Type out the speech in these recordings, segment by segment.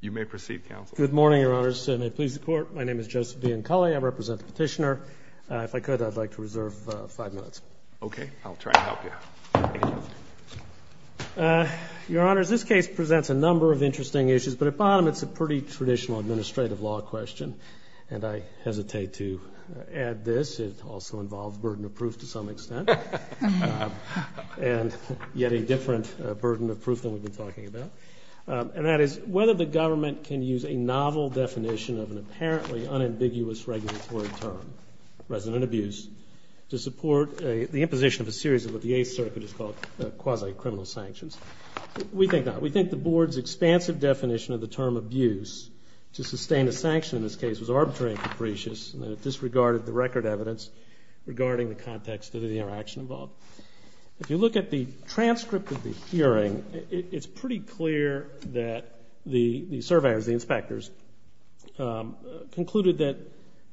You may proceed, Counsel. Good morning, Your Honors. May it please the Court, my name is Joseph DeAncali. I represent the petitioner. If I could, I'd like to reserve five minutes. Okay, I'll try to help you. Your Honors, this case presents a number of interesting issues, but at bottom it's a pretty traditional administrative law question, and I hesitate to add this. It also involves burden of proof to some extent, and yet a different burden of proof than we've been talking about, and that is whether the government can use a novel definition of an apparently unambiguous regulatory term, resident abuse, to support the imposition of a series of what the Eighth Circuit has called quasi-criminal sanctions. We think not. We think the Board's expansive definition of the term abuse to sustain a sanction in this case was arbitrary and capricious, and it disregarded the record evidence regarding the context of the interaction involved. If you look at the transcript of the hearing, it's pretty clear that the surveyors, the inspectors, concluded that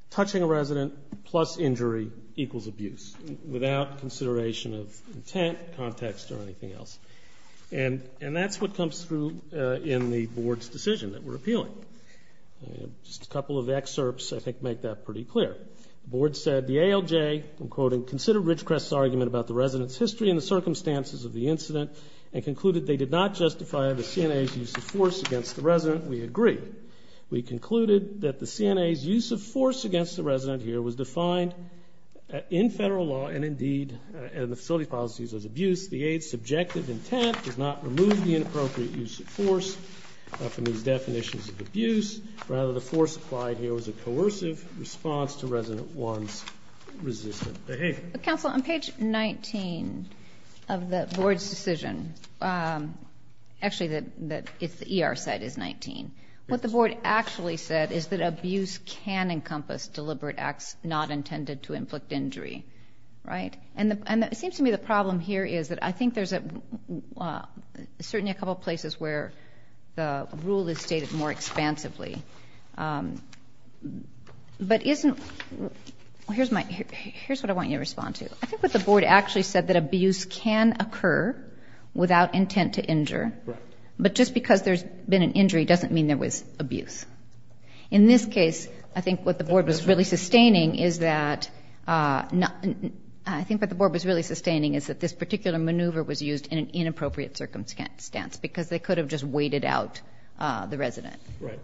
touching a resident plus injury equals abuse, without consideration of intent, context, or anything else. And that's what comes through in the Board's decision that we're appealing. Just a couple of excerpts, I think, make that pretty clear. The Board said the ALJ, I'm quoting, considered Ridgecrest's argument about the resident's history and the circumstances of the incident, and concluded they did not justify the CNA's use of force against the resident. We agree. We concluded that the CNA's use of force against the resident here was defined in federal law and, indeed, in the facility policies as abuse. The Eighth's subjective intent does not remove the inappropriate use of force from these definitions of abuse. Rather, the force applied here was a coercive response to resident one's resistant behavior. Counsel, on page 19 of the Board's decision, actually the ER side is 19, what the Board actually said is that abuse can encompass deliberate acts not intended to inflict injury, right? And it seems to me the problem here is that I think there's certainly a couple But isn't, here's what I want you to respond to. I think what the Board actually said, that abuse can occur without intent to injure. Right. But just because there's been an injury doesn't mean there was abuse. In this case, I think what the Board was really sustaining is that, I think what the Board was really sustaining is that this particular maneuver was used in an inappropriate circumstance because they could have just waited out the resident. Right.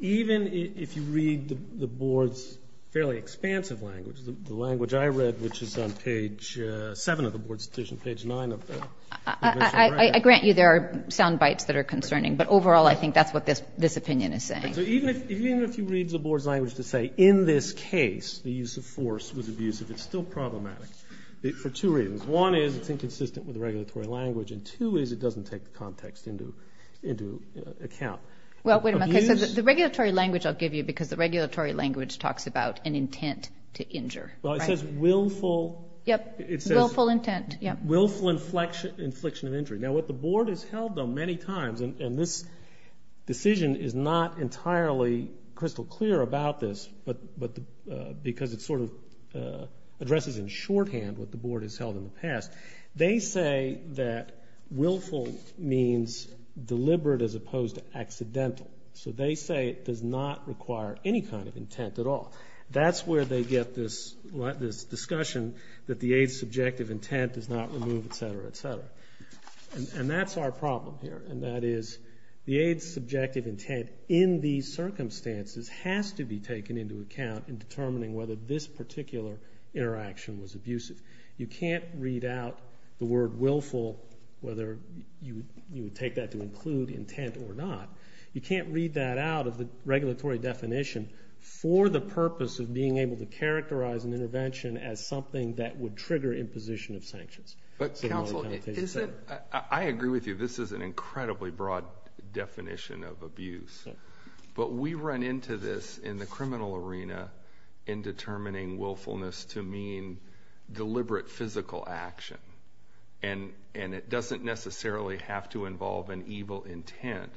Even if you read the Board's fairly expansive language, the language I read, which is on page 7 of the Board's decision, page 9 of the convention. I grant you there are sound bites that are concerning, but overall I think that's what this opinion is saying. So even if you read the Board's language to say, in this case the use of force was abusive, it's still problematic, for two reasons. One is it's inconsistent with the regulatory language, and two is it doesn't take the context into account. Well, wait a minute. So the regulatory language I'll give you because the regulatory language talks about an intent to injure. Well, it says willful. Yep. Willful intent. Willful infliction of injury. Now, what the Board has held on many times, and this decision is not entirely crystal clear about this because it sort of addresses in shorthand what the Board has held in the past. They say that willful means deliberate as opposed to accidental. So they say it does not require any kind of intent at all. That's where they get this discussion that the AIDS subjective intent does not remove, et cetera, et cetera. And that's our problem here, and that is the AIDS subjective intent in these circumstances has to be taken into account in determining whether this particular interaction was abusive. You can't read out the word willful, whether you would take that to include intent or not. You can't read that out of the regulatory definition for the purpose of being able to characterize an intervention as something that would trigger imposition of sanctions. But, counsel, I agree with you. This is an incredibly broad definition of abuse. But we run into this in the criminal arena in determining willfulness to mean deliberate physical action. And it doesn't necessarily have to involve an evil intent.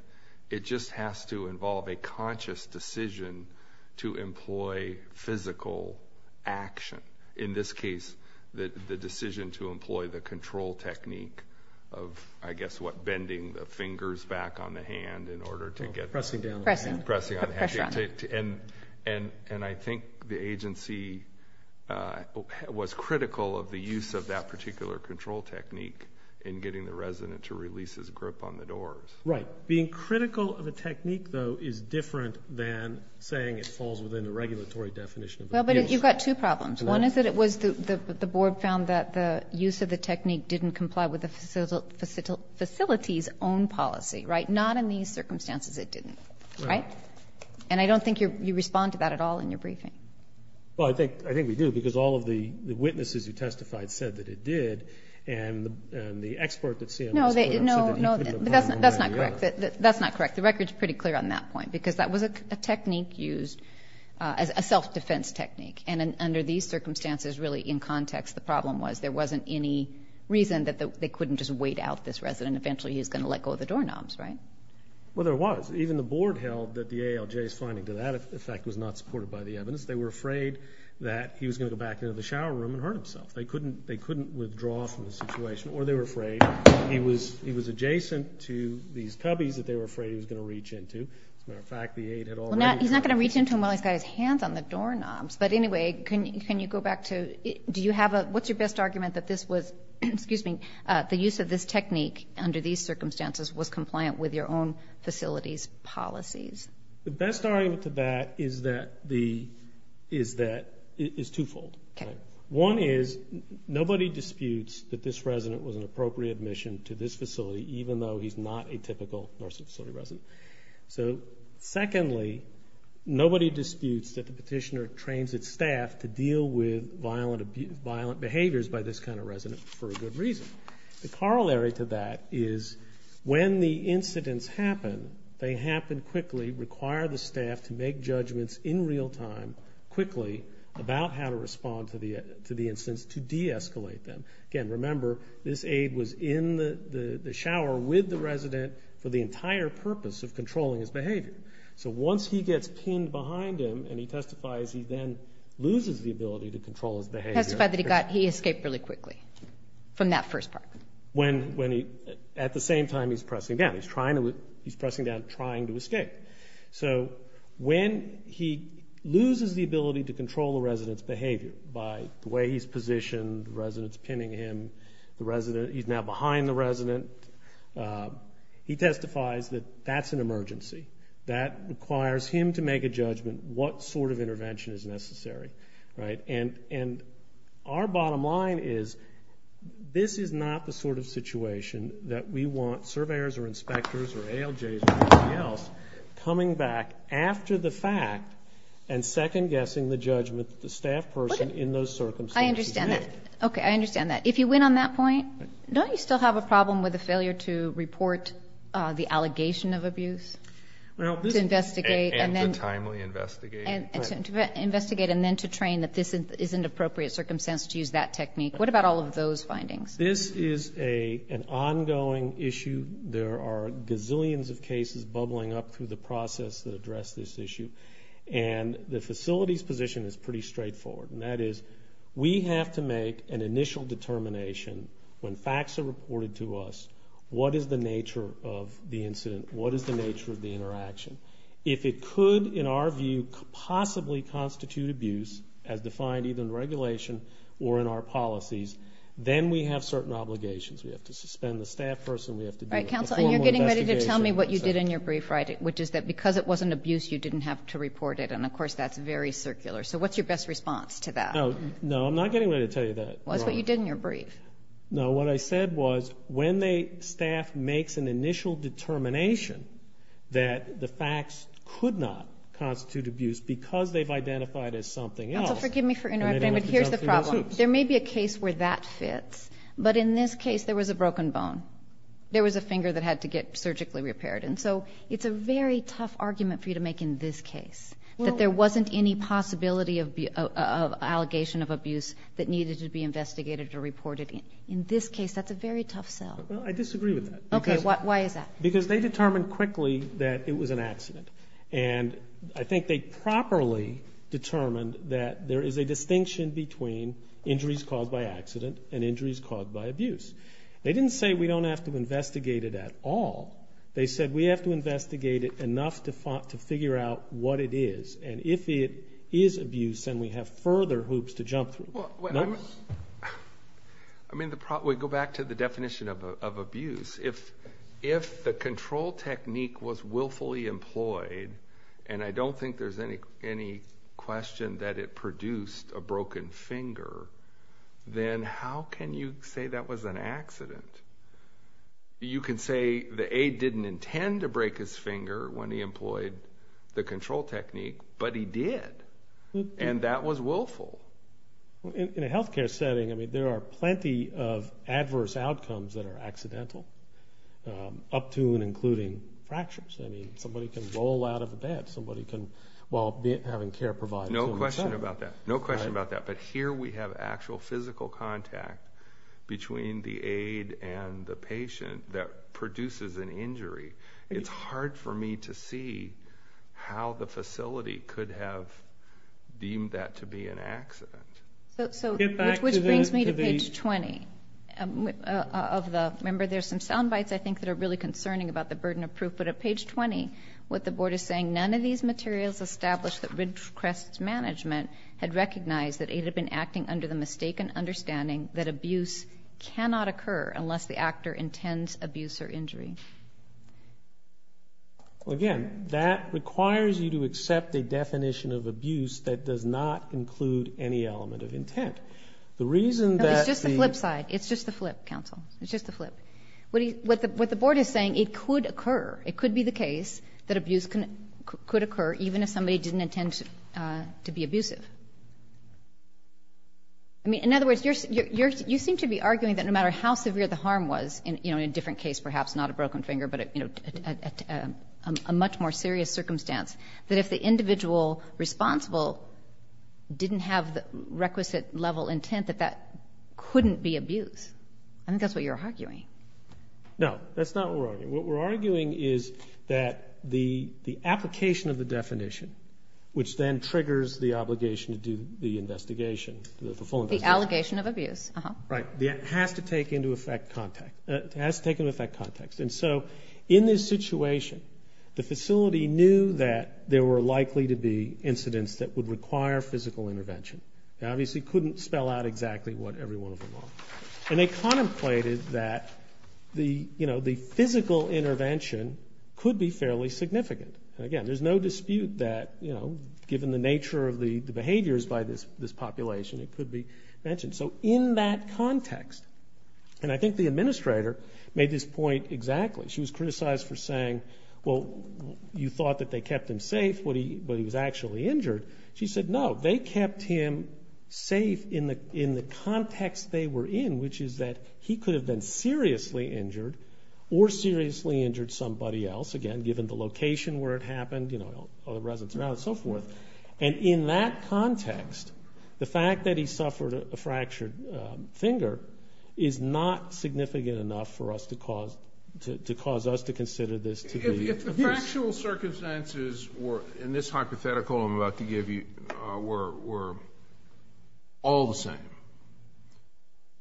It just has to involve a conscious decision to employ physical action. In this case, the decision to employ the control technique of, I guess, what, bending the fingers back on the hand in order to get... And I think the agency was critical of the use of that particular control technique in getting the resident to release his grip on the doors. Right. Being critical of a technique, though, is different than saying it falls within a regulatory definition of abuse. Well, but you've got two problems. One is that the board found that the use of the technique didn't comply with the facility's own policy, right? Not in these circumstances it didn't, right? And I don't think you respond to that at all in your briefing. Well, I think we do, because all of the witnesses who testified said that it did, and the expert that's here... No, that's not correct. The record's pretty clear on that point, because that was a technique used as a self-defense technique. And under these circumstances, really, in context, the problem was there wasn't any reason that they couldn't just wait out this resident. Eventually he was going to let go of the doorknobs, right? Well, there was. Even the board held that the ALJ's finding to that effect was not supported by the evidence. They were afraid that he was going to go back into the shower room and hurt himself. They couldn't withdraw from the situation, or they were afraid he was adjacent to these cubbies that they were afraid he was going to reach into. As a matter of fact, the aid had already... Well, he's not going to reach into them while he's got his hands on the doorknobs. But anyway, can you go back to... What's your best argument that this was... Excuse me. The use of this technique under these circumstances was compliant with your own facility's policies? The best argument to that is that... is twofold. One is, nobody disputes that this resident was an appropriate admission to this facility even though he's not a typical nursing facility resident. So, secondly, nobody disputes that the petitioner trains its staff to deal with violent behaviors by this kind of resident for a good reason. The corollary to that is, when the incidents happen, they happen quickly, require the staff to make judgments in real time, quickly, about how to respond to the incidents to de-escalate them. Again, remember, this aid was in the shower with the resident for the entire purpose of controlling his behavior. So once he gets pinned behind him and he testifies, he then loses the ability to control his behavior. He testified that he escaped really quickly from that first part. At the same time, he's pressing down. He's pressing down, trying to escape. So when he loses the ability to control the resident's behavior by the way he's positioned, the resident's pinning him, he's now behind the resident, he testifies that that's an emergency. That requires him to make a judgment what sort of intervention is necessary. Our bottom line is this is not the sort of situation that we want surveyors or inspectors or ALJs or anybody else coming back after the fact and second-guessing the judgment that the staff person in those circumstances made. I understand that. If you win on that point, don't you still have a problem with the failure to report the allegation of abuse? And to timely investigate. And to investigate and then to train that this is an appropriate circumstance to use that technique. What about all of those findings? This is an ongoing issue. There are gazillions of cases bubbling up through the process that address this issue. And the facility's position is pretty straightforward, and that is we have to make an initial determination when facts are reported to us, what is the nature of the incident, what is the nature of the interaction. If it could, in our view, possibly constitute abuse, as defined either in regulation or in our policies, then we have certain obligations. We have to suspend the staff person. We have to do a formal investigation. All right, counsel, and you're getting ready to tell me what you did in your brief, right, which is that because it was an abuse, you didn't have to report it. And, of course, that's very circular. So what's your best response to that? No, I'm not getting ready to tell you that. Well, that's what you did in your brief. No, what I said was when staff makes an initial determination that the facts could not constitute abuse because they've identified as something else. Counsel, forgive me for interrupting, but here's the problem. There may be a case where that fits, but in this case there was a broken bone. There was a finger that had to get surgically repaired. And so it's a very tough argument for you to make in this case, that there wasn't any possibility of allegation of abuse that needed to be investigated or reported. In this case, that's a very tough sell. Well, I disagree with that. Okay, why is that? Because they determined quickly that it was an accident. And I think they properly determined that there is a distinction between injuries caused by accident and injuries caused by abuse. They didn't say we don't have to investigate it at all. They said we have to investigate it enough to figure out what it is. And if it is abuse, then we have further hoops to jump through. I mean, we go back to the definition of abuse. If the control technique was willfully employed, and I don't think there's any question that it produced a broken finger, then how can you say that was an accident? You can say the aide didn't intend to break his finger when he employed the control technique, but he did. And that was willful. In a health care setting, I mean, there are plenty of adverse outcomes that are accidental, up to and including fractures. I mean, somebody can roll out of a bed while having care provided. No question about that. No question about that. But here we have actual physical contact between the aide and the patient that produces an injury. It's hard for me to see how the facility could have deemed that to be an accident. Which brings me to page 20. Remember, there's some sound bites, I think, that are really concerning about the burden of proof. But at page 20, what the Board is saying, none of these materials establish that Ridgecrest Management had recognized that aide had been acting under the mistaken understanding that abuse cannot occur unless the actor intends abuse or injury. Again, that requires you to accept a definition of abuse that does not include any element of intent. It's just the flip side. It's just the flip, counsel. It's just the flip. What the Board is saying, it could occur, it could be the case that abuse could occur even if somebody didn't intend to be abusive. In other words, you seem to be arguing that no matter how severe the harm was, in a different case perhaps, not a broken finger, but a much more serious circumstance, that if the individual responsible didn't have the requisite level intent, that that couldn't be abuse. I think that's what you're arguing. No, that's not what we're arguing. What we're arguing is that the application of the definition, which then triggers the obligation to do the investigation, the full investigation. The allegation of abuse. Right. It has to take into effect context. And so in this situation, the facility knew that there were likely to be incidents that would require physical intervention. They obviously couldn't spell out exactly what every one of them are. And they contemplated that the physical intervention could be fairly significant. Again, there's no dispute that given the nature of the behaviors by this population, it could be mentioned. So in that context, and I think the administrator made this point exactly. She was criticized for saying, well, you thought that they kept him safe, but he was actually injured. She said, no, they kept him safe in the context they were in, which is that he could have been seriously injured or seriously injured somebody else, again, given the location where it happened, other residents around and so forth. And in that context, the fact that he suffered a fractured finger is not significant enough for us to cause us to consider this to be abuse. If the factual circumstances were, in this hypothetical I'm about to give you, were all the same,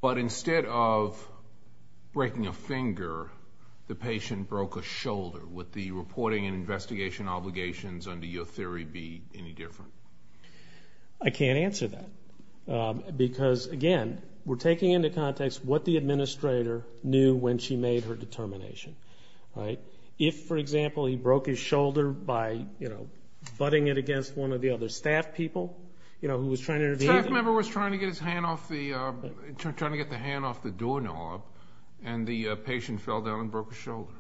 but instead of breaking a finger, the patient broke a shoulder, would the reporting and investigation obligations under your theory be any different? I can't answer that because, again, we're taking into context what the administrator knew when she made her determination. If, for example, he broke his shoulder by, you know, butting it against one of the other staff people who was trying to intervene. The staff member was trying to get his hand off the door knob, and the patient fell down and broke his shoulder.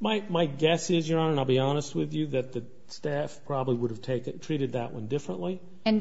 My guess is, Your Honor, and I'll be honest with you, that the staff probably would have treated that one differently. And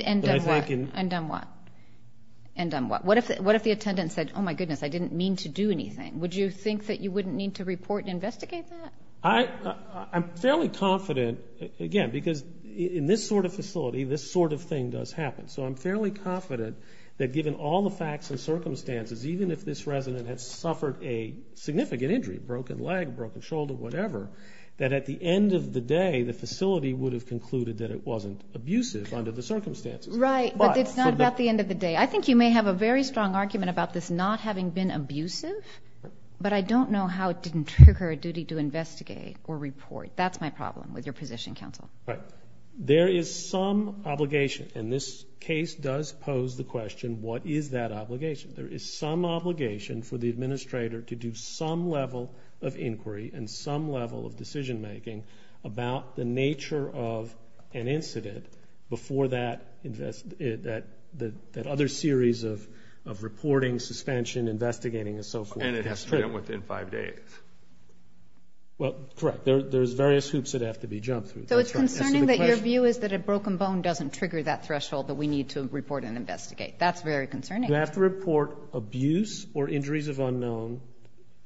done what? What if the attendant said, oh, my goodness, I didn't mean to do anything? Would you think that you wouldn't need to report and investigate that? I'm fairly confident, again, because in this sort of facility, this sort of thing does happen. So I'm fairly confident that given all the facts and circumstances, even if this resident had suffered a significant injury, broken leg, broken shoulder, whatever, that at the end of the day the facility would have concluded that it wasn't abusive under the circumstances. Right, but it's not about the end of the day. I think you may have a very strong argument about this not having been abusive, but I don't know how it didn't trigger a duty to investigate or report. That's my problem with your position, counsel. Right. There is some obligation, and this case does pose the question, what is that obligation? There is some obligation for the administrator to do some level of inquiry and some level of decision making about the nature of an incident before that other series of reporting, suspension, investigating, and so forth. And it has to be done within five days. Well, correct. There's various hoops that have to be jumped through. So it's concerning that your view is that a broken bone doesn't trigger that threshold that we need to report and investigate. That's very concerning. You have to report abuse or injuries of unknown.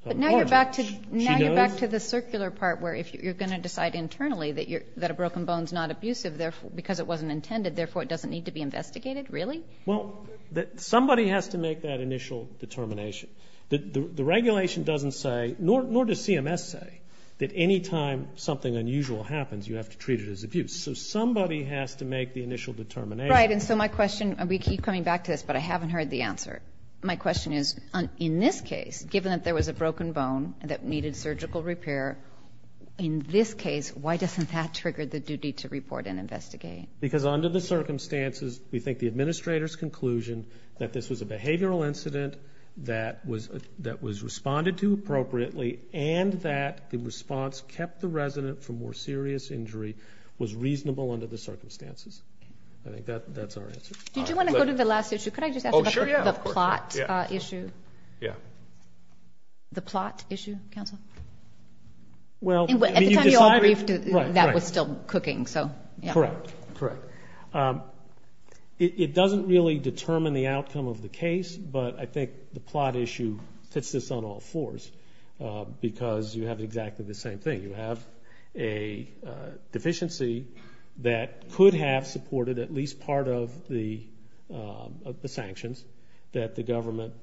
But now you're back to the circular part where if you're going to decide internally that a broken bone is not abusive because it wasn't intended, therefore it doesn't need to be investigated, really? Well, somebody has to make that initial determination. The regulation doesn't say, nor does CMS say, that any time something unusual happens you have to treat it as abuse. So somebody has to make the initial determination. Right. And so my question, and we keep coming back to this, but I haven't heard the answer. My question is, in this case, given that there was a broken bone that needed surgical repair, in this case, why doesn't that trigger the duty to report and investigate? Because under the circumstances, we think the administrator's conclusion that this was a behavioral incident, that was responded to appropriately, and that the response kept the resident from more serious injury was reasonable under the circumstances. I think that's our answer. Did you want to go to the last issue? Could I just ask about the plot issue? Yeah. The plot issue, counsel? Well, you decided. At the time you all briefed, that was still cooking, so. Correct, correct. It doesn't really determine the outcome of the case, but I think the plot issue fits this on all fours because you have exactly the same thing. You have a deficiency that could have supported at least part of the sanctions that the government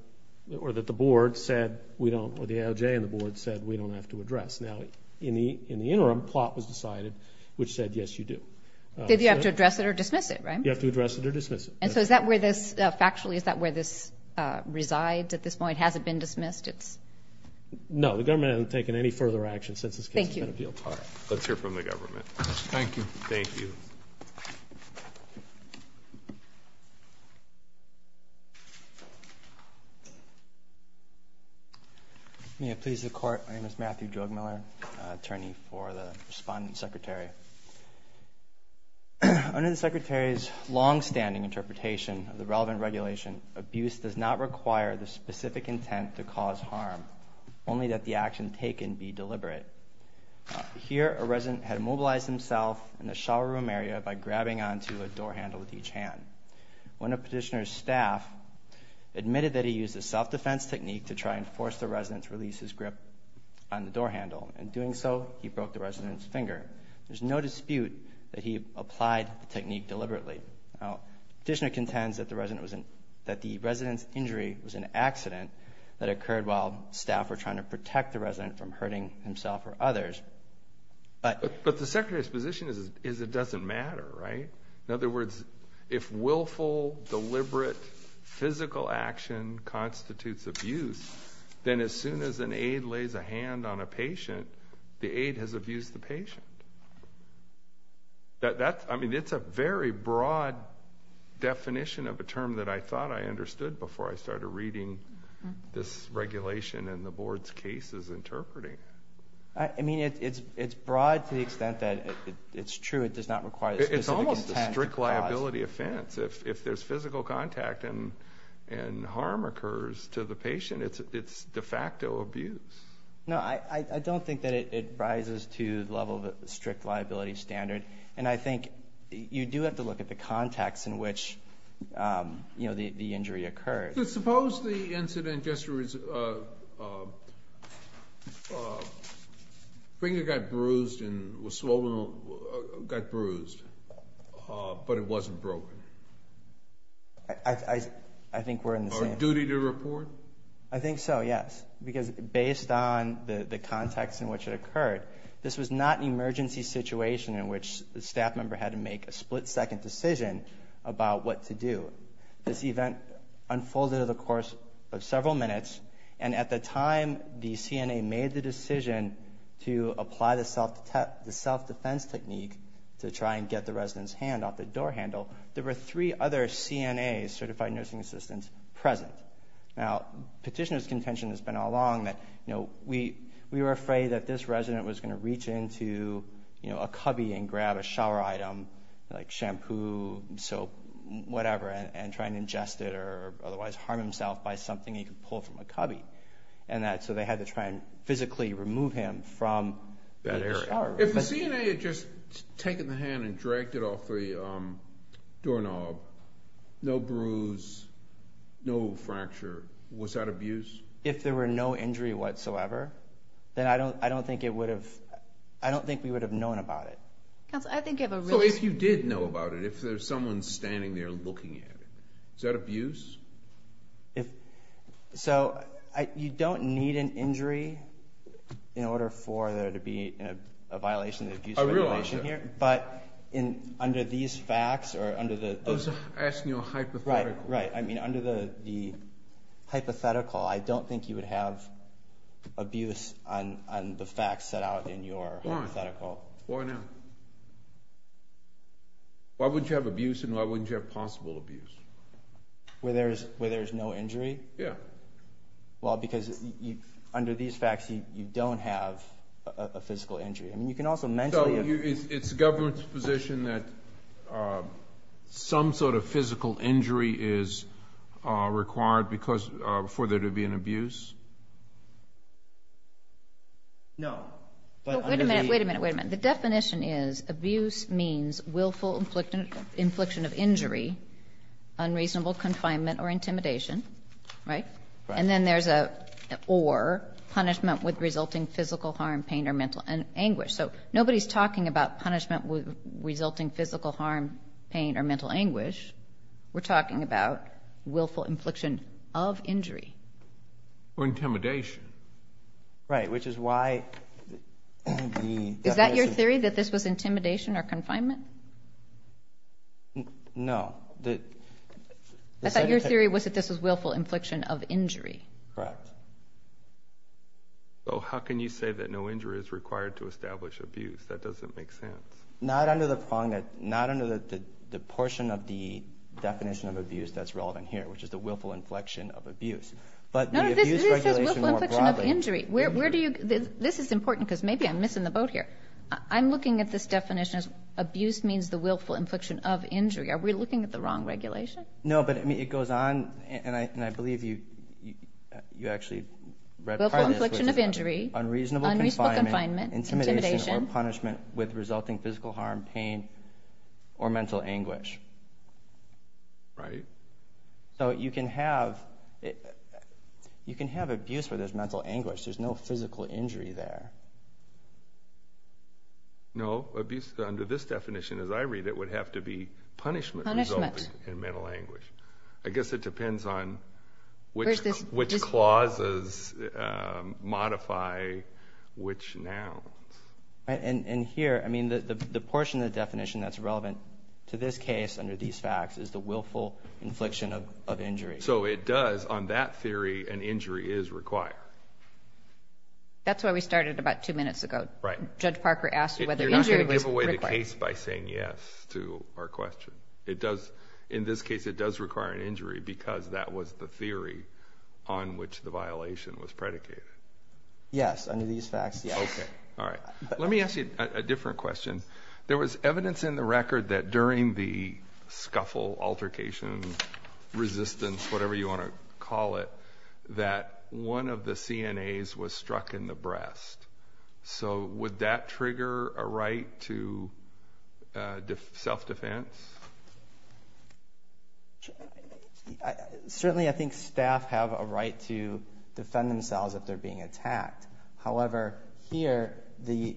or that the board said we don't, or the ALJ and the board said we don't have to address. Now, in the interim, the plot was decided, which said, yes, you do. Did you have to address it or dismiss it, right? You have to address it or dismiss it. And so is that where this, factually, is that where this resides at this point? Has it been dismissed? No. The government hasn't taken any further action since this case has been appealed to. Thank you. All right. Let's hear from the government. Thank you. Thank you. May it please the Court. My name is Matthew Drugmiller, attorney for the respondent secretary. Under the secretary's longstanding interpretation of the relevant regulation, abuse does not require the specific intent to cause harm, only that the action taken be deliberate. Here, a resident had mobilized himself in the shower room area by grabbing onto a door handle with each hand. One of Petitioner's staff admitted that he used a self-defense technique to try and force the resident to release his grip on the door handle. In doing so, he broke the resident's finger. There's no dispute that he applied the technique deliberately. Now, Petitioner contends that the resident's injury was an accident that occurred while staff were trying to protect the resident from hurting himself or others. But the secretary's position is it doesn't matter, right? In other words, if willful, deliberate, physical action constitutes abuse, then as soon as an aide lays a hand on a patient, the aide has abused the patient. I mean, it's a very broad definition of a term that I thought I understood before I started reading this regulation and the board's cases interpreting. I mean, it's broad to the extent that it's true it does not require the specific intent. It's a strict liability offense. If there's physical contact and harm occurs to the patient, it's de facto abuse. No, I don't think that it rises to the level of a strict liability standard. And I think you do have to look at the context in which the injury occurred. Suppose the incident yesterday was a finger got bruised and was swollen, got bruised, but it wasn't broken. I think we're in the same. A duty to report? I think so, yes, because based on the context in which it occurred, this was not an emergency situation in which the staff member had to make a split-second decision about what to do. This event unfolded over the course of several minutes, and at the time the CNA made the decision to apply the self-defense technique to try and get the resident's hand off the door handle, there were three other CNAs, certified nursing assistants, present. Now, petitioner's contention has been all along that we were afraid that this resident was going to reach into a cubby and grab a shower item, like shampoo, soap, whatever, and try and ingest it or otherwise harm himself by something he could pull from a cubby. So they had to try and physically remove him from that area. If the CNA had just taken the hand and dragged it off the doorknob, no bruise, no fracture, was that abuse? If there were no injury whatsoever, then I don't think we would have known about it. So if you did know about it, if there's someone standing there looking at it, is that abuse? So you don't need an injury in order for there to be a violation of the abuse regulation here. I realize that. I was asking you a hypothetical. Right. I mean, under the hypothetical, I don't think you would have abuse on the facts set out in your hypothetical. Why not? Why wouldn't you have abuse and why wouldn't you have possible abuse? Where there's no injury? Yeah. Well, because under these facts, you don't have a physical injury. So it's the government's position that some sort of physical injury is required for there to be an abuse? No. Wait a minute, wait a minute, wait a minute. The definition is abuse means willful infliction of injury, unreasonable confinement or intimidation, right? So nobody's talking about punishment resulting physical harm, pain or mental anguish. We're talking about willful infliction of injury. Or intimidation. Right, which is why the definition... Is that your theory, that this was intimidation or confinement? No. I thought your theory was that this was willful infliction of injury. Correct. So how can you say that no injury is required to establish abuse? That doesn't make sense. Not under the portion of the definition of abuse that's relevant here, which is the willful inflection of abuse. No, this is willful inflection of injury. This is important because maybe I'm missing the boat here. I'm looking at this definition as abuse means the willful inflection of injury. Are we looking at the wrong regulation? No, but it goes on, and I believe you actually read part of this. Willful inflection of injury, unreasonable confinement, intimidation or punishment with resulting physical harm, pain or mental anguish. Right. So you can have abuse where there's mental anguish. There's no physical injury there. No. Under this definition, as I read it, it would have to be punishment resulting in mental anguish. I guess it depends on which clauses modify which nouns. And here, the portion of the definition that's relevant to this case under these facts is the willful inflection of injury. So it does, on that theory, an injury is required. That's why we started about two minutes ago. Right. Judge Parker asked whether injury was required. You're not going to give away the case by saying yes to our question. In this case, it does require an injury because that was the theory on which the violation was predicated. Yes, under these facts, yes. All right. Let me ask you a different question. There was evidence in the record that during the scuffle, altercation, resistance, whatever you want to call it, that one of the CNAs was struck in the breast. So would that trigger a right to self-defense? Certainly, I think staff have a right to defend themselves if they're being attacked. However, here, the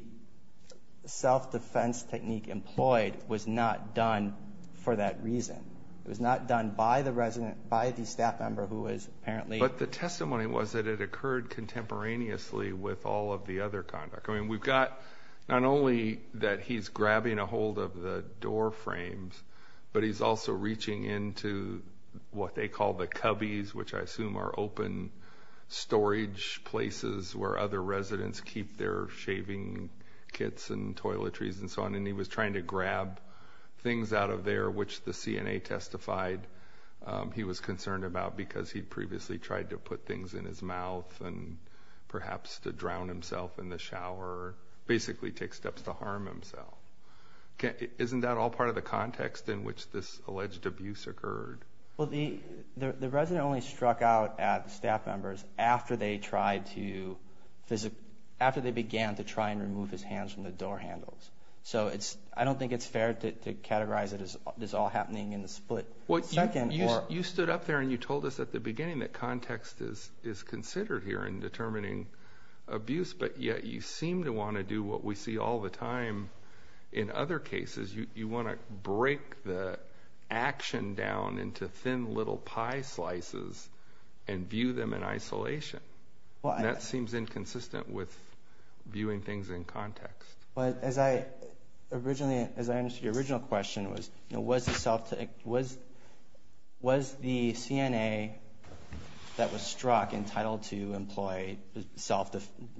self-defense technique employed was not done for that reason. It was not done by the resident, by the staff member who was apparently. But the testimony was that it occurred contemporaneously with all of the other conduct. I mean, we've got not only that he's grabbing a hold of the door frames, but he's also reaching into what they call the cubbies, which I assume are open storage places where other residents keep their shaving kits and toiletries and so on. And he was trying to grab things out of there, which the CNA testified he was concerned about because he'd previously tried to put things in his mouth and perhaps to drown himself in the shower, basically take steps to harm himself. Isn't that all part of the context in which this alleged abuse occurred? Well, the resident only struck out at staff members after they began to try and remove his hands from the door handles. So I don't think it's fair to categorize it as all happening in the split second. You stood up there and you told us at the beginning that context is considered here in determining abuse, but yet you seem to want to do what we see all the time in other cases. You want to break the action down into thin little pie slices and view them in isolation. That seems inconsistent with viewing things in context. As I understood your original question, was the CNA that was struck entitled to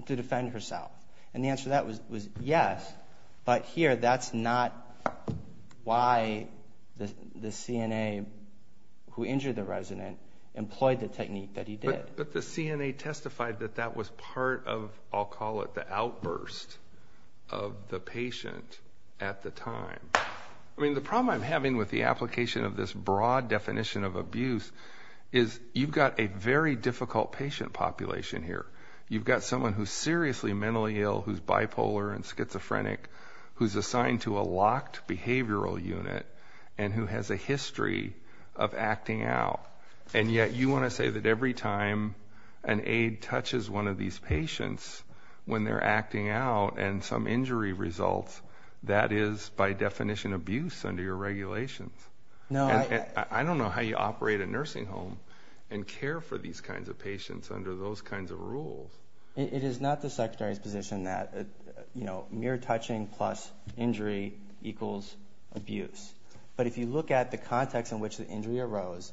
defend herself? And the answer to that was yes, but here that's not why the CNA who injured the resident employed the technique that he did. But the CNA testified that that was part of, I'll call it, the outburst of the patient at the time. I mean, the problem I'm having with the application of this broad definition of abuse is you've got a very difficult patient population here. You've got someone who's seriously mentally ill, who's bipolar and schizophrenic, who's assigned to a locked behavioral unit and who has a history of acting out. And yet you want to say that every time an aide touches one of these patients when they're acting out and some injury results, that is by definition abuse under your regulations. I don't know how you operate a nursing home and care for these kinds of patients under those kinds of rules. It is not the Secretary's position that mere touching plus injury equals abuse. But if you look at the context in which the injury arose,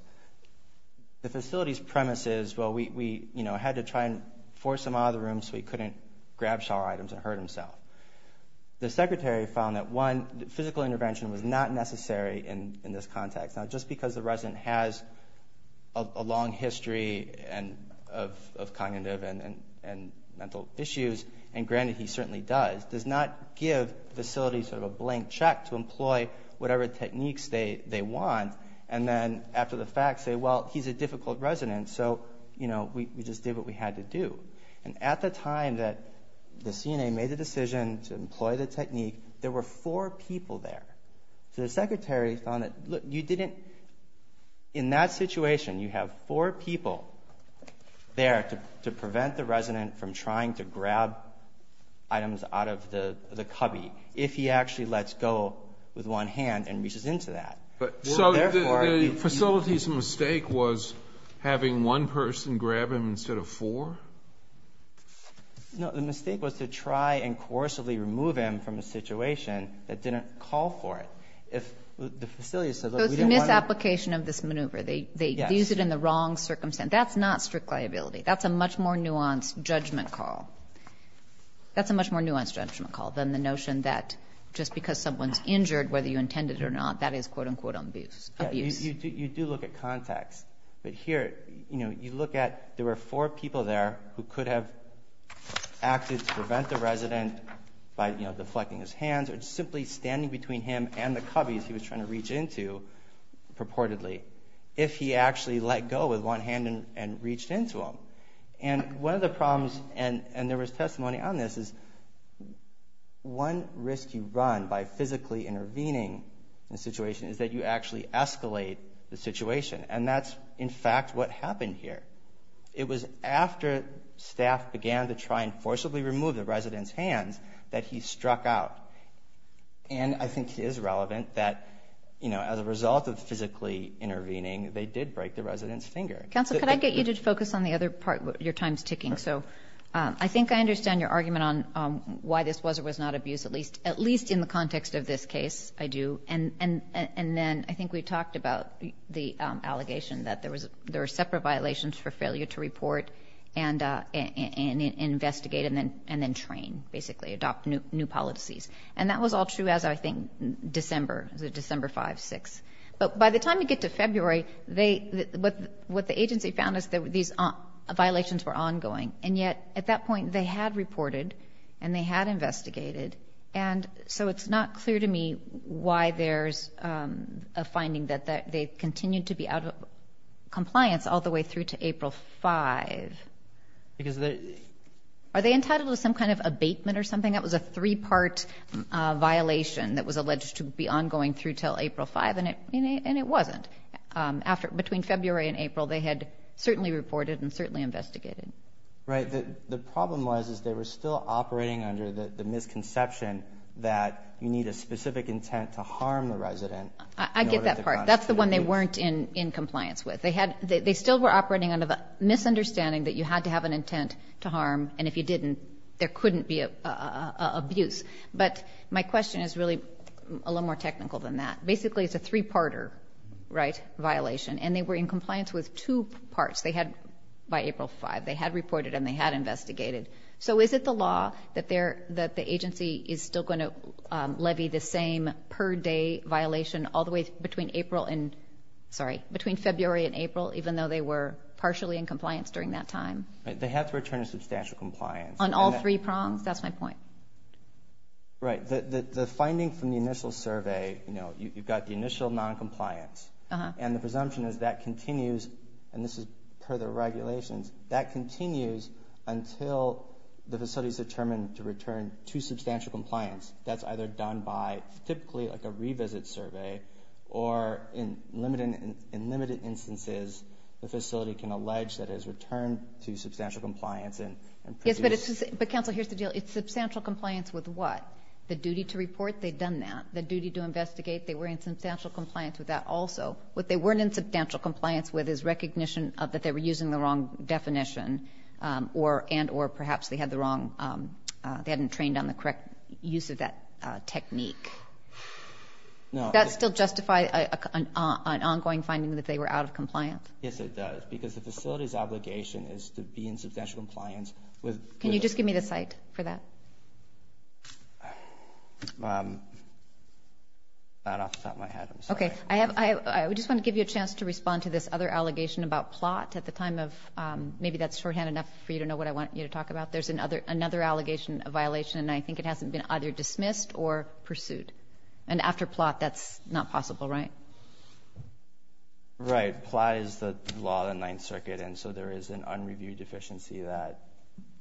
the facility's premise is, well, we had to try and force him out of the room so he couldn't grab shower items and hurt himself. The Secretary found that, one, physical intervention was not necessary in this context. Now, just because the resident has a long history of cognitive and mental issues, and granted, he certainly does, does not give facilities sort of a blank check to employ whatever techniques they want and then after the fact say, well, he's a difficult resident, so we just did what we had to do. And at the time that the CNA made the decision to employ the technique, there were four people there. So the Secretary found that, look, you didn't, in that situation you have four people there to prevent the resident from trying to grab items out of the cubby if he actually lets go with one hand and reaches into that. So the facility's mistake was having one person grab him instead of four? No. The mistake was to try and coercively remove him from a situation that didn't call for it. If the facility said, look, we don't want to do it. So it's a misapplication of this maneuver. Yes. They use it in the wrong circumstance. That's not strict liability. That's a much more nuanced judgment call. That's a much more nuanced judgment call than the notion that just because someone's You do look at context. But here, you look at there were four people there who could have acted to prevent the resident by deflecting his hands or simply standing between him and the cubbies he was trying to reach into purportedly if he actually let go with one hand and reached into them. And one of the problems, and there was testimony on this, is one risk you run by physically intervening in a situation is that you actually escalate the situation. And that's, in fact, what happened here. It was after staff began to try and forcibly remove the resident's hands that he struck out. And I think it is relevant that, you know, as a result of physically intervening, they did break the resident's finger. Counsel, could I get you to focus on the other part? Your time's ticking. So I think I understand your argument on why this was or was not abused, at least in the context of this case, I do. And then I think we talked about the allegation that there were separate violations for failure to report and investigate and then train, basically adopt new policies. And that was all true as, I think, December, December 5, 6. But by the time you get to February, what the agency found is these violations were ongoing. And yet, at that point, they had reported and they had investigated. And so it's not clear to me why there's a finding that they continued to be out of compliance all the way through to April 5. Because they... Are they entitled to some kind of abatement or something? That was a three-part violation that was alleged to be ongoing through till April 5, and it wasn't. Between February and April, they had certainly reported and certainly investigated. Right. The problem was is they were still operating under the misconception that you need a specific intent to harm the resident. I get that part. That's the one they weren't in compliance with. They still were operating under the misunderstanding that you had to have an intent to harm. And if you didn't, there couldn't be an abuse. But my question is really a little more technical than that. Basically, it's a three-parter, right, violation. And they were in compliance with two parts. They had, by April 5, they had reported and they had investigated. So is it the law that the agency is still going to levy the same per-day violation all the way between April and, sorry, between February and April, even though they were partially in compliance during that time? They have to return to substantial compliance. On all three prongs? That's my point. Right. The finding from the initial survey, you know, you've got the initial noncompliance. And the presumption is that continues, and this is per the regulations, that continues until the facility is determined to return to substantial compliance. That's either done by typically like a revisit survey, or in limited instances, the facility can allege that it has returned to substantial compliance. Yes, but counsel, here's the deal. It's substantial compliance with what? The duty to report? They've done that. The duty to investigate? They were in substantial compliance with that also. What they weren't in substantial compliance with is recognition that they were using the wrong definition and or perhaps they had the wrong, they hadn't trained on the correct use of that technique. Does that still justify an ongoing finding that they were out of compliance? Yes, it does, because the facility's obligation is to be in substantial compliance with... Can you just give me the site for that? That off the top of my head, I'm sorry. Okay. I just want to give you a chance to respond to this other allegation about plot at the time of, maybe that's shorthand enough for you to know what I want you to talk about. There's another allegation of violation, and I think it hasn't been either dismissed or pursued. And after plot, that's not possible, right? Right. Plot is the law of the Ninth Circuit, and so there is an unreviewed deficiency that...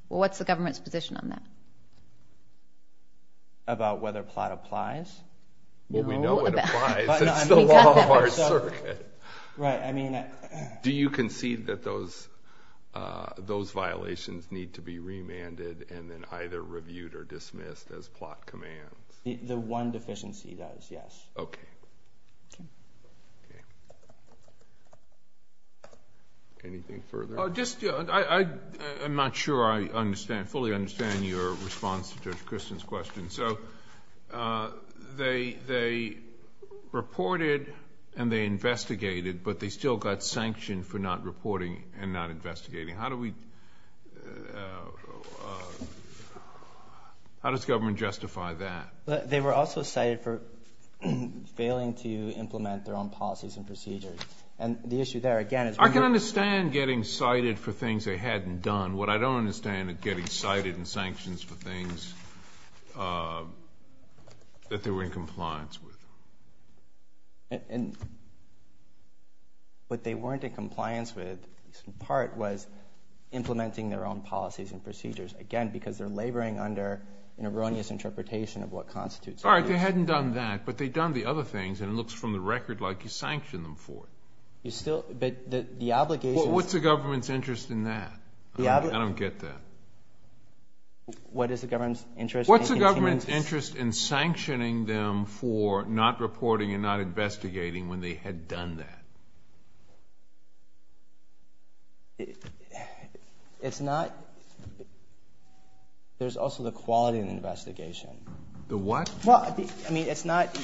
Well, what's the government's position on that? About whether plot applies? Well, we know it applies. It's the law of our circuit. Right, I mean... Do you concede that those violations need to be remanded and then either reviewed or dismissed as plot commands? The one deficiency does, yes. Okay. Okay. Okay. Anything further? I'm not sure I fully understand your response to Judge Christen's question. So they reported and they investigated, but they still got sanctioned for not reporting and not investigating. How does government justify that? They were also cited for failing to implement their own policies and procedures. And the issue there, again, is... I can understand getting cited for things they hadn't done. What I don't understand is getting cited in sanctions for things that they were in compliance with. What they weren't in compliance with, in part, was implementing their own policies and procedures, again, because they're laboring under an erroneous interpretation of what constitutes... All right, they hadn't done that, but they'd done the other things, and it looks from the record like you sanctioned them for it. But the obligation... Well, what's the government's interest in that? I don't get that. What is the government's interest in... What's the government's interest in sanctioning them for not reporting and not investigating when they had done that? It's not... There's also the quality of the investigation. The what? Well, I mean, it's not...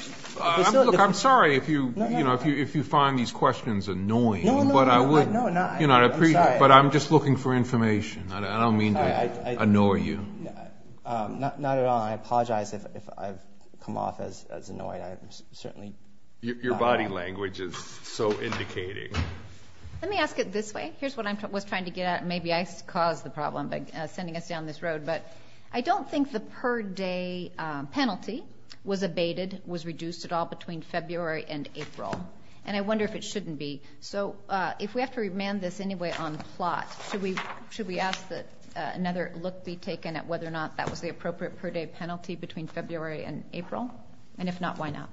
Look, I'm sorry if you find these questions annoying, but I'm just looking for information. I don't mean to annoy you. Not at all. I apologize if I've come off as annoying. Your body language is so indicating. Let me ask it this way. Here's what I was trying to get at. Maybe I caused the problem by sending us down this road, but I don't think the per-day penalty was abated, was reduced at all between February and April, and I wonder if it shouldn't be. So if we have to remand this anyway on plot, should we ask that another look be taken at whether or not that was the appropriate per-day penalty between February and April? And if not, why not?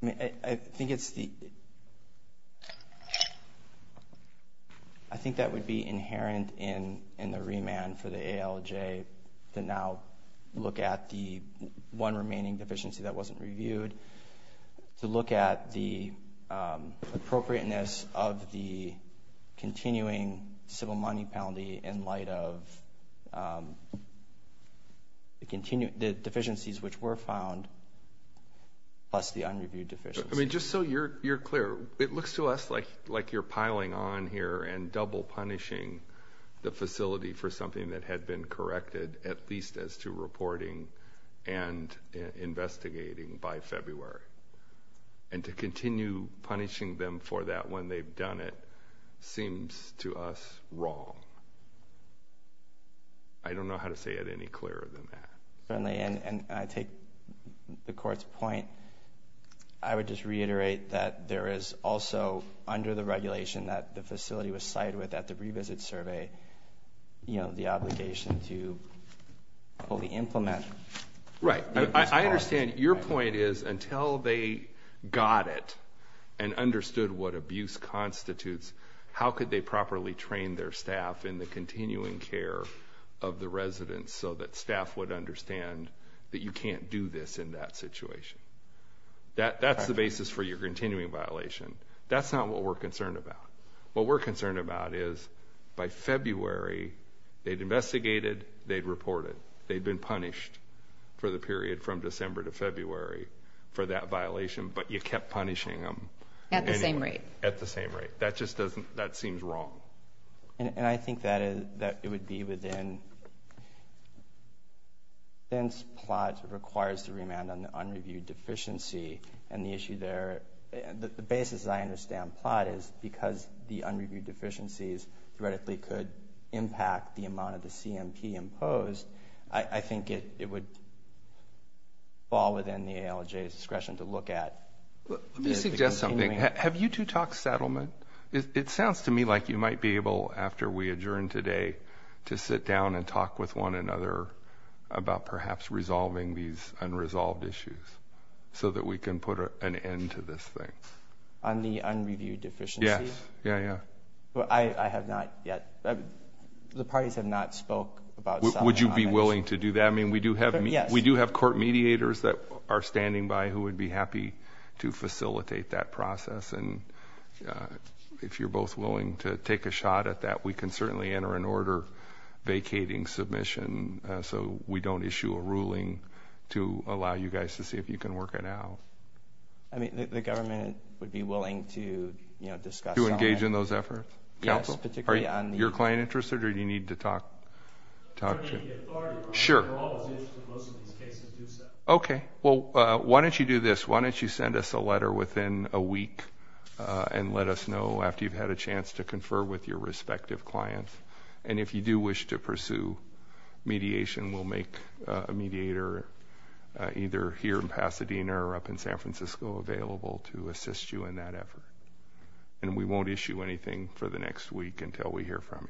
I mean, I think it's the... I think that would be inherent in the remand for the ALJ to now look at the one remaining deficiency that wasn't reviewed, to look at the appropriateness of the continuing civil money penalty in light of the deficiencies which were found, plus the unreviewed deficiency. I mean, just so you're clear, it looks to us like you're piling on here and double punishing the facility for something that had been corrected, at least as to reporting and investigating by February. And to continue punishing them for that when they've done it seems to us wrong. I don't know how to say it any clearer than that. Certainly, and I take the Court's point. I would just reiterate that there is also, under the regulation that the facility was cited with at the revisit survey, the obligation to fully implement... Right. I understand. Your point is, until they got it and understood what abuse constitutes, how could they properly train their staff in the continuing care of the residents so that staff would understand that you can't do this in that situation? That's the basis for your continuing violation. That's not what we're concerned about. What we're concerned about is, by February, they'd investigated, they'd reported, they'd been punished for the period from December to February for that violation, but you kept punishing them. At the same rate. At the same rate. That just doesn't... that seems wrong. And I think that it would be within... since plot requires the remand on the unreviewed deficiency, and the issue there... The basis I understand plot is, because the unreviewed deficiencies theoretically could impact the amount of the CMP imposed, I think it would fall within the ALJ's discretion to look at... Let me suggest something. Have you two talked settlement? It sounds to me like you might be able, after we adjourn today, to sit down and talk with one another about perhaps resolving these unresolved issues so that we can put an end to this thing. On the unreviewed deficiencies? Yes. Yeah, yeah. I have not yet... the parties have not spoke about... Would you be willing to do that? I mean, we do have court mediators that are standing by who would be happy to facilitate that process, and if you're both willing to take a shot at that, we can certainly enter an order vacating submission so we don't issue a ruling to allow you guys to see if you can work it out. I mean, the government would be willing to discuss... To engage in those efforts? Yes, particularly on the... Are you client interested, or do you need to talk to... It's up to the authority. Sure. We're always interested. Most of these cases do so. Okay. Well, why don't you do this? Why don't you send us a letter within a week and let us know after you've had a chance to confer with your respective clients, and if you do wish to pursue mediation, we'll make a mediator either here in Pasadena or up in San Francisco available to assist you in that effort, and we won't issue anything for the next week until we hear from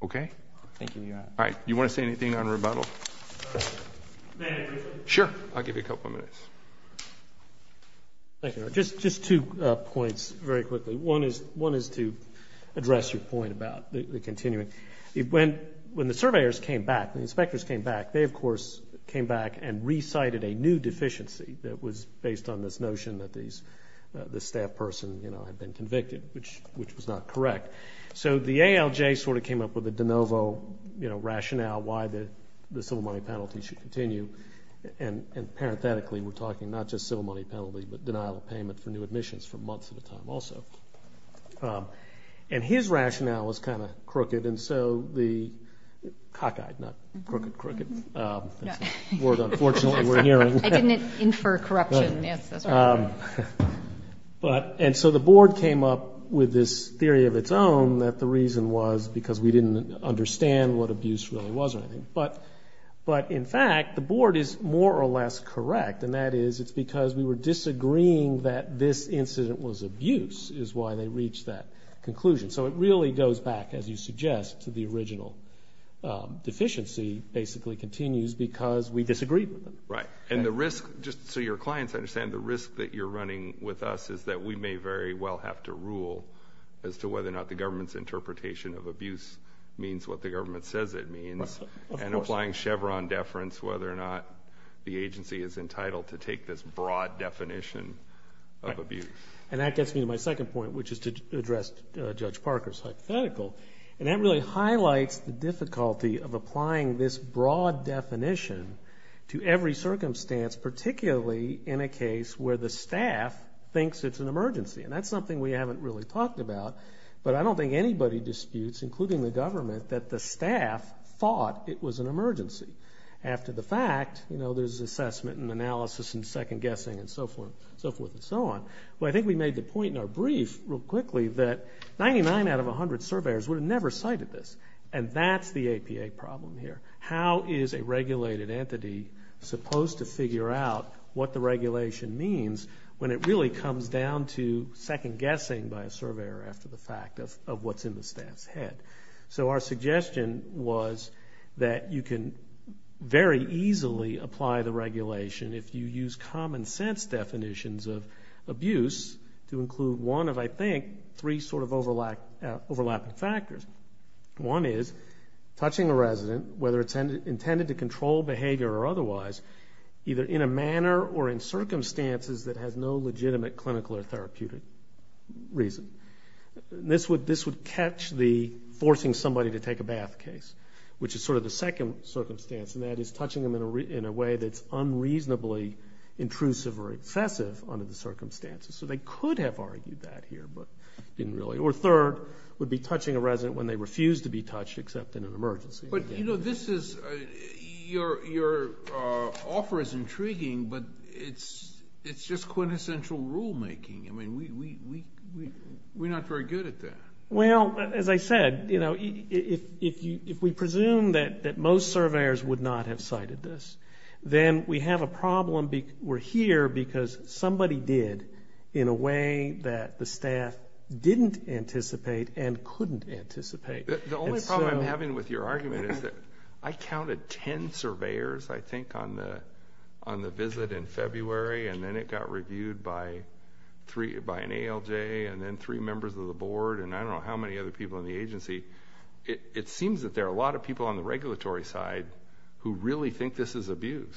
you. Okay? Thank you, Your Honor. All right. Do you want to say anything on rebuttal? Sure. I'll give you a couple of minutes. Thank you, Your Honor. Just two points very quickly. One is to address your point about the continuing. When the surveyors came back, the inspectors came back, they, of course, came back and recited a new deficiency that was based on this notion that this staff person had been convicted, which was not correct. So the ALJ sort of came up with a de novo rationale why the civil money penalty should continue, and parenthetically we're talking not just civil money penalty but denial of payment for new admissions for months at a time also. And his rationale was kind of crooked, and so the cock-eyed, not crooked crooked, that's a word unfortunately we're hearing. I didn't infer corruption. And so the board came up with this theory of its own that the reason was because we didn't understand what abuse really was or anything. But in fact, the board is more or less correct, and that is it's because we were disagreeing that this incident was abuse is why they reached that conclusion. So it really goes back, as you suggest, to the original deficiency basically continues because we disagreed with them. Right. And the risk, just so your clients understand, the risk that you're running with us is that we may very well have to rule as to whether or not the government's interpretation of abuse means what the government says it means. Of course. And applying Chevron deference whether or not the agency is entitled to take this broad definition of abuse. And that gets me to my second point, which is to address Judge Parker's hypothetical, and that really highlights the difficulty of applying this broad definition to every circumstance, particularly in a case where the staff thinks it's an emergency. And that's something we haven't really talked about, but I don't think anybody disputes, including the government, that the staff thought it was an emergency. After the fact, you know, there's assessment and analysis and second-guessing and so forth and so on. But I think we made the point in our brief real quickly that 99 out of 100 surveyors would have never cited this, and that's the APA problem here. How is a regulated entity supposed to figure out what the regulation means when it really comes down to second-guessing by a surveyor after the fact of what's in the staff's head? So our suggestion was that you can very easily apply the regulation if you use common-sense definitions of abuse to include one of, I think, three sort of overlapping factors. One is touching a resident, whether it's intended to control behavior or otherwise, either in a manner or in circumstances that has no legitimate clinical or therapeutic reason. This would catch the forcing somebody to take a bath case, which is sort of the second circumstance, and that is touching them in a way that's unreasonably intrusive or excessive under the circumstances. So they could have argued that here, but didn't really. Or third would be touching a resident when they refuse to be touched except in an emergency. But, you know, your offer is intriguing, but it's just quintessential rulemaking. I mean, we're not very good at that. Well, as I said, if we presume that most surveyors would not have cited this, then we have a problem. We're here because somebody did in a way that the staff didn't anticipate and couldn't anticipate. The only problem I'm having with your argument is that I counted ten surveyors, I think, on the visit in February, and then it got reviewed by an ALJ and then three members of the board and I don't know how many other people in the agency. It seems that there are a lot of people on the regulatory side who really think this is abuse.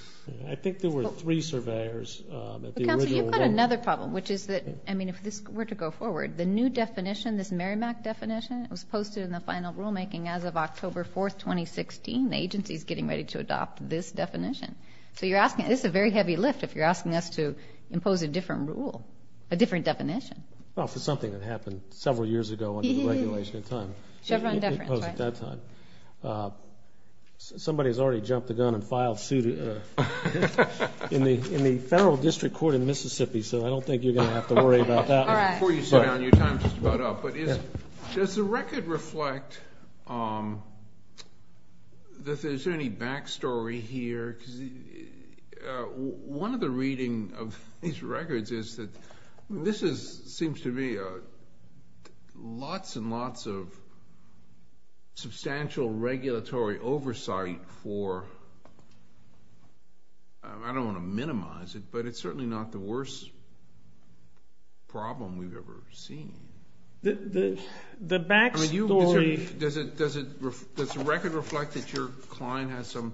I think there were three surveyors at the original vote. Counselor, you've got another problem, which is that, I mean, if this were to go forward, the new definition, this Merrimack definition, was posted in the final rulemaking as of October 4th, 2016. The agency is getting ready to adopt this definition. So you're asking, this is a very heavy lift if you're asking us to impose a different rule, a different definition. Well, if it's something that happened several years ago under the regulation at the time. Chevron deference, right? Somebody has already jumped the gun and filed suit in the federal district court in Mississippi, so I don't think you're going to have to worry about that. Before you sit down, your time is just about up. But does the record reflect that there's any back story here? One of the readings of these records is that this seems to be lots and lots of substantial regulatory oversight for, I don't want to minimize it, but it's certainly not the worst problem we've ever seen. The back story. Does the record reflect that your client has some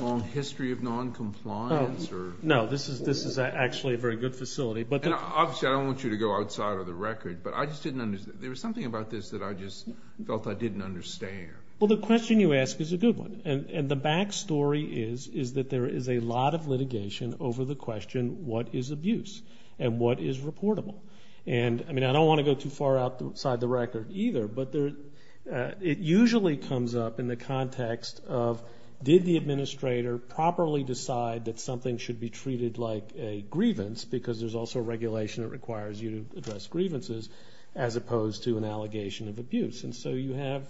long history of noncompliance? No, this is actually a very good facility. Obviously, I don't want you to go outside of the record, but I just didn't understand. There was something about this that I just felt I didn't understand. Well, the question you ask is a good one, and the back story is that there is a lot of litigation over the question, what is abuse and what is reportable? And, I mean, I don't want to go too far outside the record either, but it usually comes up in the context of did the administrator properly decide that something should be treated like a grievance because there's also regulation that requires you to address grievances as opposed to an allegation of abuse. And so you have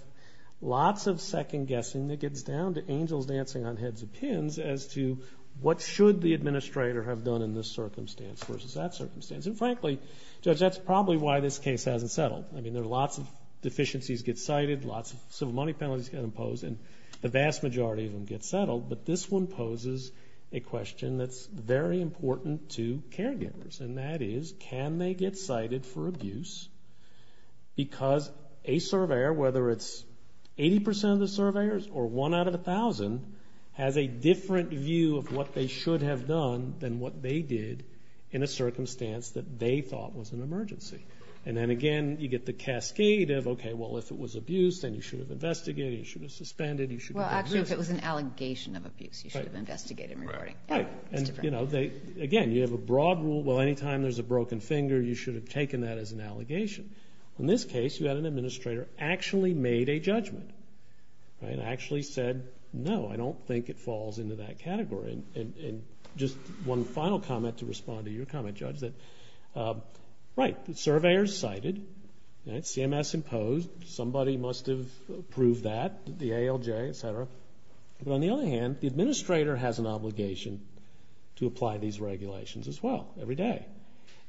lots of second guessing that gets down to angels dancing on heads of pins as to what should the administrator have done in this circumstance versus that circumstance. And, frankly, Judge, that's probably why this case hasn't settled. I mean, there are lots of deficiencies get cited, lots of civil money penalties get imposed, and the vast majority of them get settled, but this one poses a question that's very important to caregivers, and that is can they get cited for abuse because a surveyor, whether it's 80% of the surveyors or 1 out of 1,000, has a different view of what they should have done than what they did in a circumstance that they thought was an emergency. And then, again, you get the cascade of, okay, well, if it was abuse, then you should have investigated, you should have suspended, you should have reversed. Well, actually, if it was an allegation of abuse, you should have investigated and reported. Right. And, you know, again, you have a broad rule, well, any time there's a broken finger, you should have taken that as an allegation. In this case, you had an administrator actually made a judgment and actually said, no, I don't think it falls into that category. And just one final comment to respond to your comment, Judge, that, right, surveyors cited, CMS imposed, somebody must have approved that, the ALJ, et cetera. But on the other hand, the administrator has an obligation to apply these regulations as well every day.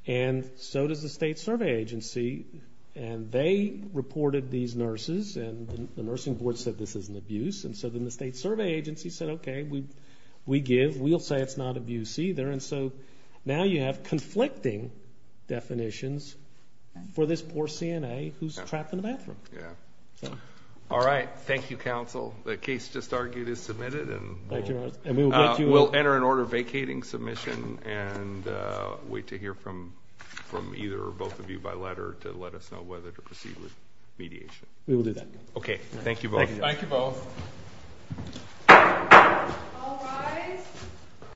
And so does the state survey agency. And they reported these nurses and the nursing board said this is an abuse. And so then the state survey agency said, okay, we give, we'll say it's not abuse either. And so now you have conflicting definitions for this poor CNA who's trapped in the bathroom. All right. Thank you, counsel. The case just argued is submitted. And we'll enter an order vacating submission and wait to hear from either or both of you by letter to let us know whether to proceed with mediation. We will do that. Okay. Thank you both. Thank you both. All rise.